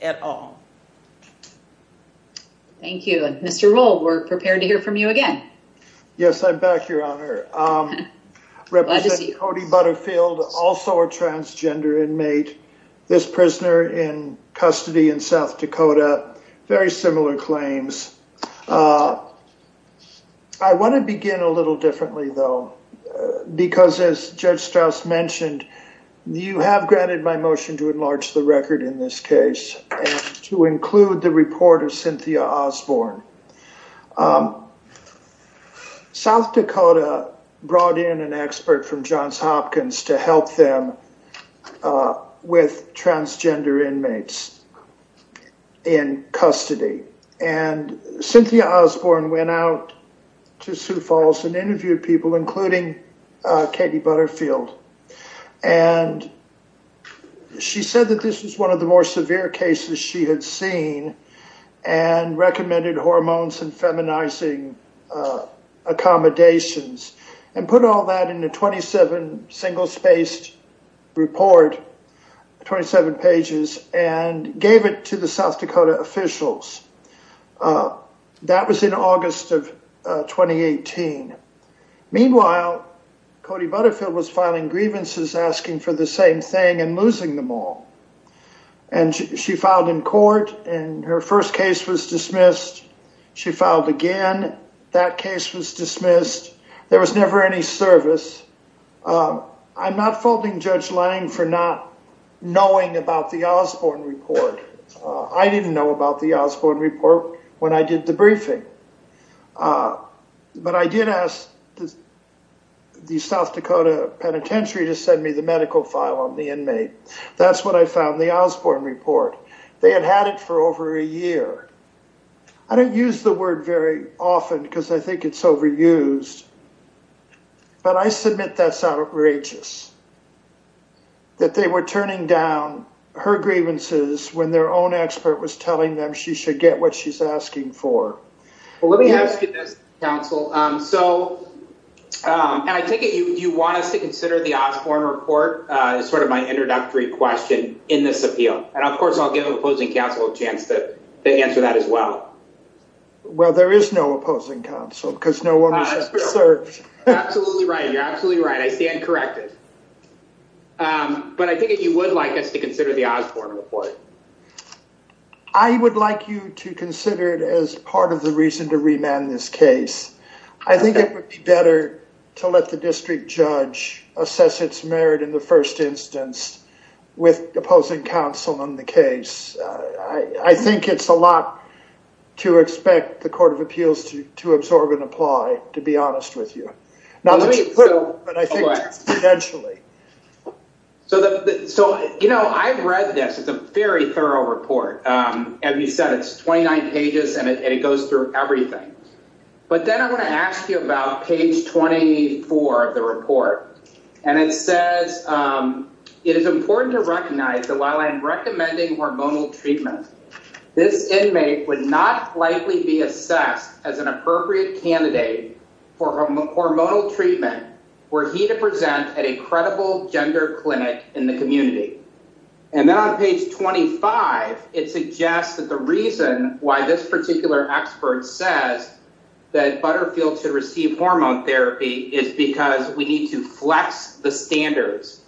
at all. Thank you. Mr. Rowe. We're prepared to hear from you again. Yes, I'm back. Your Honor. Represented Kody Butterfield, also a transgender inmate. This prisoner in custody in South Dakota very similar claims. I want to begin a little differently, though, because as Judge Strauss mentioned, you have granted my motion to enlarge the record in this case to include the report of Cynthia Osborne. South Dakota brought in an expert from Johns Hopkins to help them with transgender inmates in custody. And Cynthia Osborne went out to Sioux Falls and interviewed people, including Katie Butterfield. And she said that this was one of the more severe cases she had seen and recommended hormones and feminizing accommodations and put all that in a 27 single spaced report, 27 pages, and gave it to the South Dakota officials. That was in August of 2018. Meanwhile, Kody Butterfield was filing grievances asking for the same thing and losing them all. And she filed in court and her first case was dismissed. She filed again. That case was dismissed. There was never any service. I'm not faulting Judge Lange for not knowing about the Osborne report. I didn't know about the Osborne report when I did the briefing. But I did ask the South Dakota penitentiary to send me the medical file on the inmate. That's what I found in the Osborne report. They had had it for over a year. I don't use the word very often because I think it's overused. But I submit that's outrageous that they were turning down her grievances when their own expert was telling them she should get what she's asking for. Let me ask you this, counsel. So I take it you want us to consider the Osborne report as sort of my introductory question in this appeal. And of course, I'll give the opposing counsel a chance to answer that as well. Well, there is no opposing counsel because no one has served. Absolutely right. You're absolutely right. I stand corrected. But I think you would like us to consider the Osborne report. I would like you to consider it as part of the reason to remand this case. I think it would be better to let the district judge assess its merit in the first instance with opposing counsel on the case. I think it's a lot to expect the Court of Appeals to absorb and apply, to be honest with you. So, you know, I've read this. It's a very thorough report. As you said, it's 29 pages and it goes through everything. But then I want to ask you about page 24 of the report. And it says it is important to recognize that while I am recommending hormonal treatment, this inmate would not likely be assessed as an appropriate candidate for hormonal treatment were he to present at a credible gender clinic in the community. And then on page 25, it suggests that the reason why this particular expert says that Butterfield should receive hormone therapy is because we need to flex the standards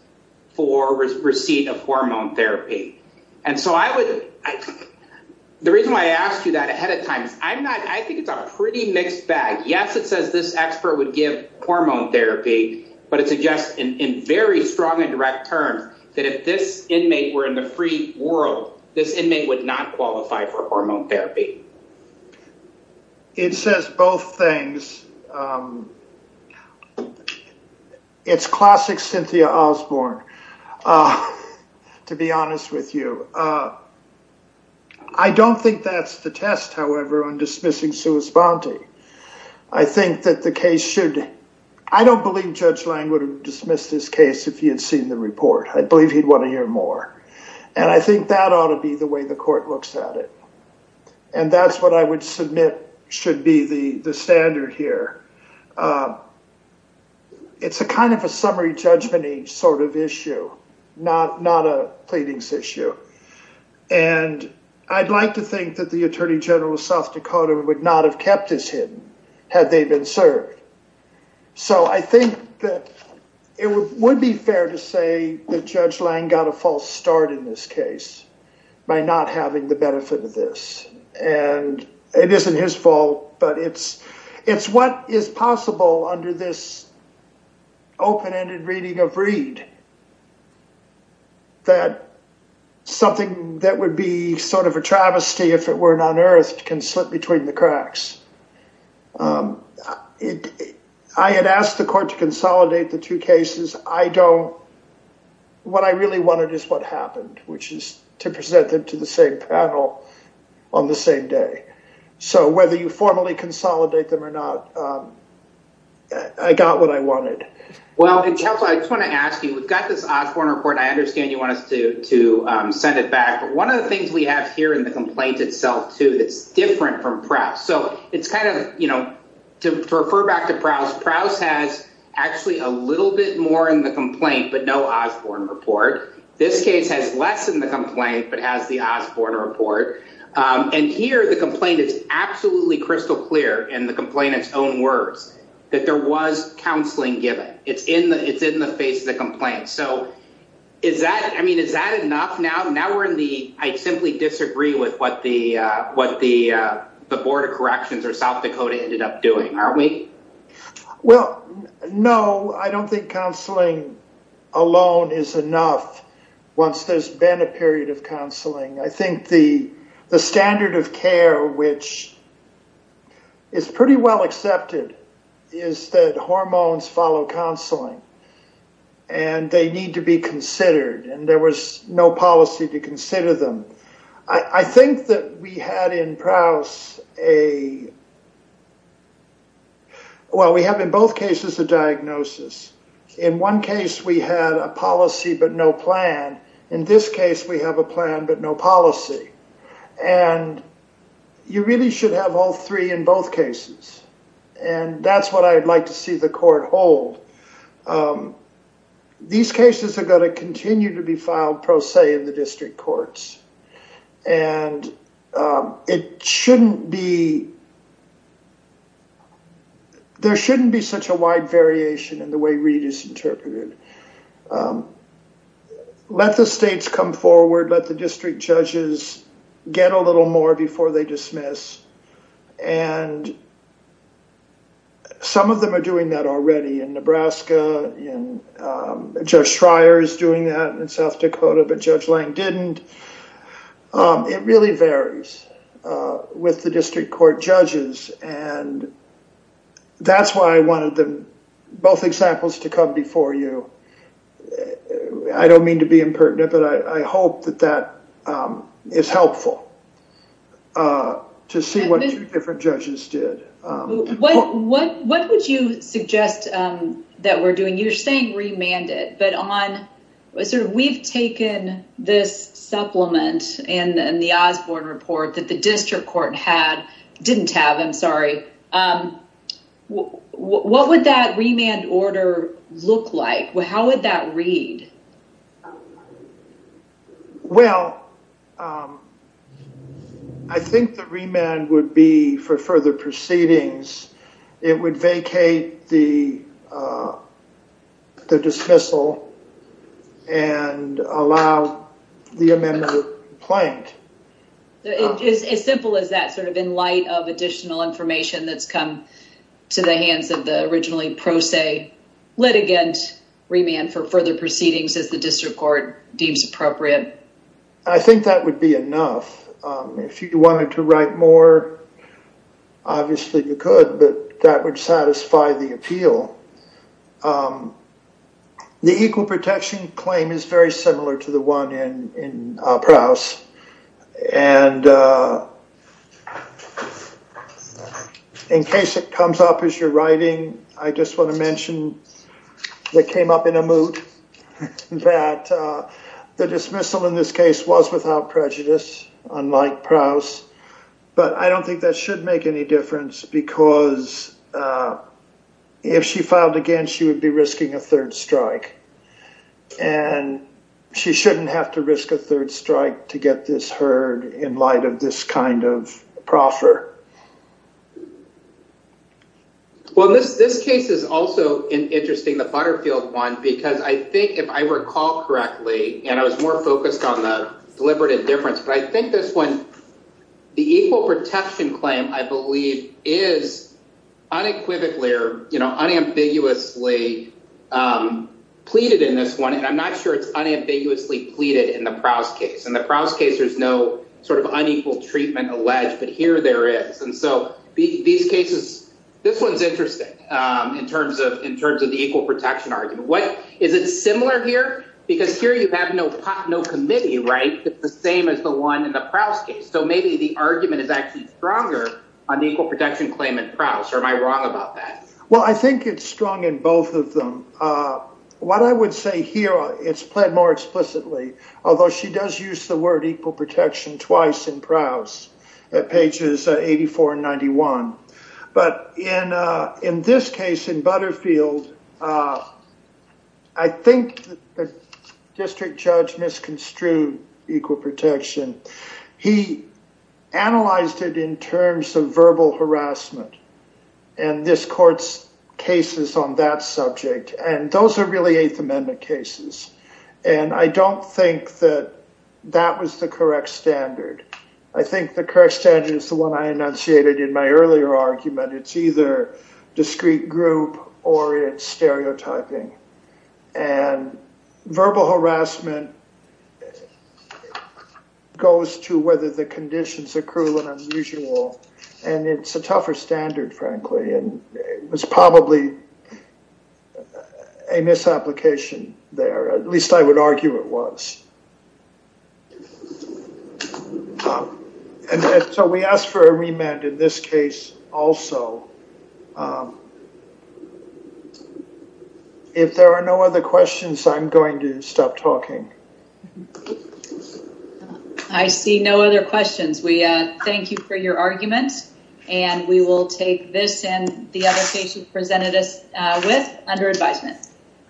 for receipt of hormone therapy. The reason why I asked you that ahead of time is I think it's a pretty mixed bag. Yes, it says this expert would give hormone therapy, but it suggests in very strong and direct terms that if this inmate were in the free world, this inmate would not qualify for hormone therapy. It says both things. It's classic Cynthia Osborne, to be honest with you. I don't think that's the test, however, on dismissing sui sponte. I think that the case should, I don't believe Judge Lang would have dismissed this case if he had seen the report. I believe he'd want to hear more. And I think that ought to be the way the court looks at it. And that's what I would submit should be the standard here. It's a kind of a summary judgment each sort of issue, not a pleadings issue. And I'd like to think that the attorney general of South Dakota would not have kept this hidden had they been served. So I think that it would be fair to say that Judge Lang got a false start in this case by not having the benefit of this. And it isn't his fault, but it's what is possible under this open ended reading of Reed. That something that would be sort of a travesty if it weren't unearthed can slip between the cracks. I had asked the court to consolidate the two cases. I don't what I really wanted is what happened, which is to present them to the same panel on the same day. So whether you formally consolidate them or not, I got what I wanted. Well, I just want to ask you, we've got this Osborne report. I understand you want us to send it back. But one of the things we have here in the complaint itself, too, that's different from Prouse. So it's kind of, you know, to refer back to Prouse. Prouse has actually a little bit more in the complaint, but no Osborne report. This case has less in the complaint, but has the Osborne report. And here the complaint is absolutely crystal clear in the complainant's own words that there was counseling given. It's in the it's in the face of the complaint. So is that I mean, is that enough now? Now we're in the I simply disagree with what the what the the Board of Corrections or South Dakota ended up doing. Aren't we? Well, no, I don't think counseling alone is enough. Once there's been a period of counseling, I think the the standard of care, which is pretty well accepted, is that hormones follow counseling. And they need to be considered. And there was no policy to consider them. I think that we had in Prouse a. Well, we have in both cases a diagnosis. In one case, we had a policy, but no plan. In this case, we have a plan, but no policy. And you really should have all three in both cases. And that's what I'd like to see the court hold. These cases are going to continue to be filed pro se in the district courts. And it shouldn't be. There shouldn't be such a wide variation in the way Reed is interpreted. Let the states come forward. Let the district judges get a little more before they dismiss. And. Some of them are doing that already in Nebraska. Judge Schreier is doing that in South Dakota, but Judge Lang didn't. It really varies with the district court judges. And that's why I wanted them both examples to come before you. I don't mean to be impertinent, but I hope that that is helpful. To see what different judges did. What would you suggest that we're doing? You're saying remanded, but on what sort of we've taken this supplement and the Osborne report that the district court had didn't have. I'm sorry. What would that remand order look like? How would that read? Well. I think the remand would be for further proceedings. It would vacate the. The dismissal. And allow the amendment of complaint. As simple as that sort of in light of additional information that's come to the hands of the originally pro se litigant remand for further proceedings. As the district court deems appropriate. I think that would be enough. If you wanted to write more. Obviously, you could, but that would satisfy the appeal. The equal protection claim is very similar to the one in Prowse. And. In case it comes up as you're writing, I just want to mention. They came up in a mood that the dismissal in this case was without prejudice, unlike Prowse. But I don't think that should make any difference because. If she filed again, she would be risking a third strike. And she shouldn't have to risk a third strike to get this heard in light of this kind of proffer. Well, this this case is also interesting. The Butterfield one, because I think if I recall correctly, and I was more focused on the deliberate indifference, but I think this one. The equal protection claim, I believe, is unequivocally or unambiguously pleaded in this one. And I'm not sure it's unambiguously pleaded in the Prowse case and the Prowse case. There's no sort of unequal treatment alleged. But here there is. And so these cases, this one's interesting in terms of in terms of the equal protection argument. What is it similar here? Because here you have no pot, no committee. Right. It's the same as the one in the Prowse case. So maybe the argument is actually stronger on the equal protection claim in Prowse. Or am I wrong about that? Well, I think it's strong in both of them. What I would say here, it's pled more explicitly, although she does use the word equal protection twice in Prowse at pages 84 and 91. But in in this case, in Butterfield, I think the district judge misconstrued equal protection. He analyzed it in terms of verbal harassment. And this court's cases on that subject. And those are really Eighth Amendment cases. And I don't think that that was the correct standard. I think the correct standard is the one I enunciated in my earlier argument. It's either discrete group or it's stereotyping. And verbal harassment goes to whether the conditions are cruel and unusual. And it's a tougher standard, frankly. And it was probably a misapplication there. At least I would argue it was. And so we asked for a remand in this case also. If there are no other questions, I'm going to stop talking. I see no other questions. We thank you for your argument. And we will take this and the other case you presented us with under advisement.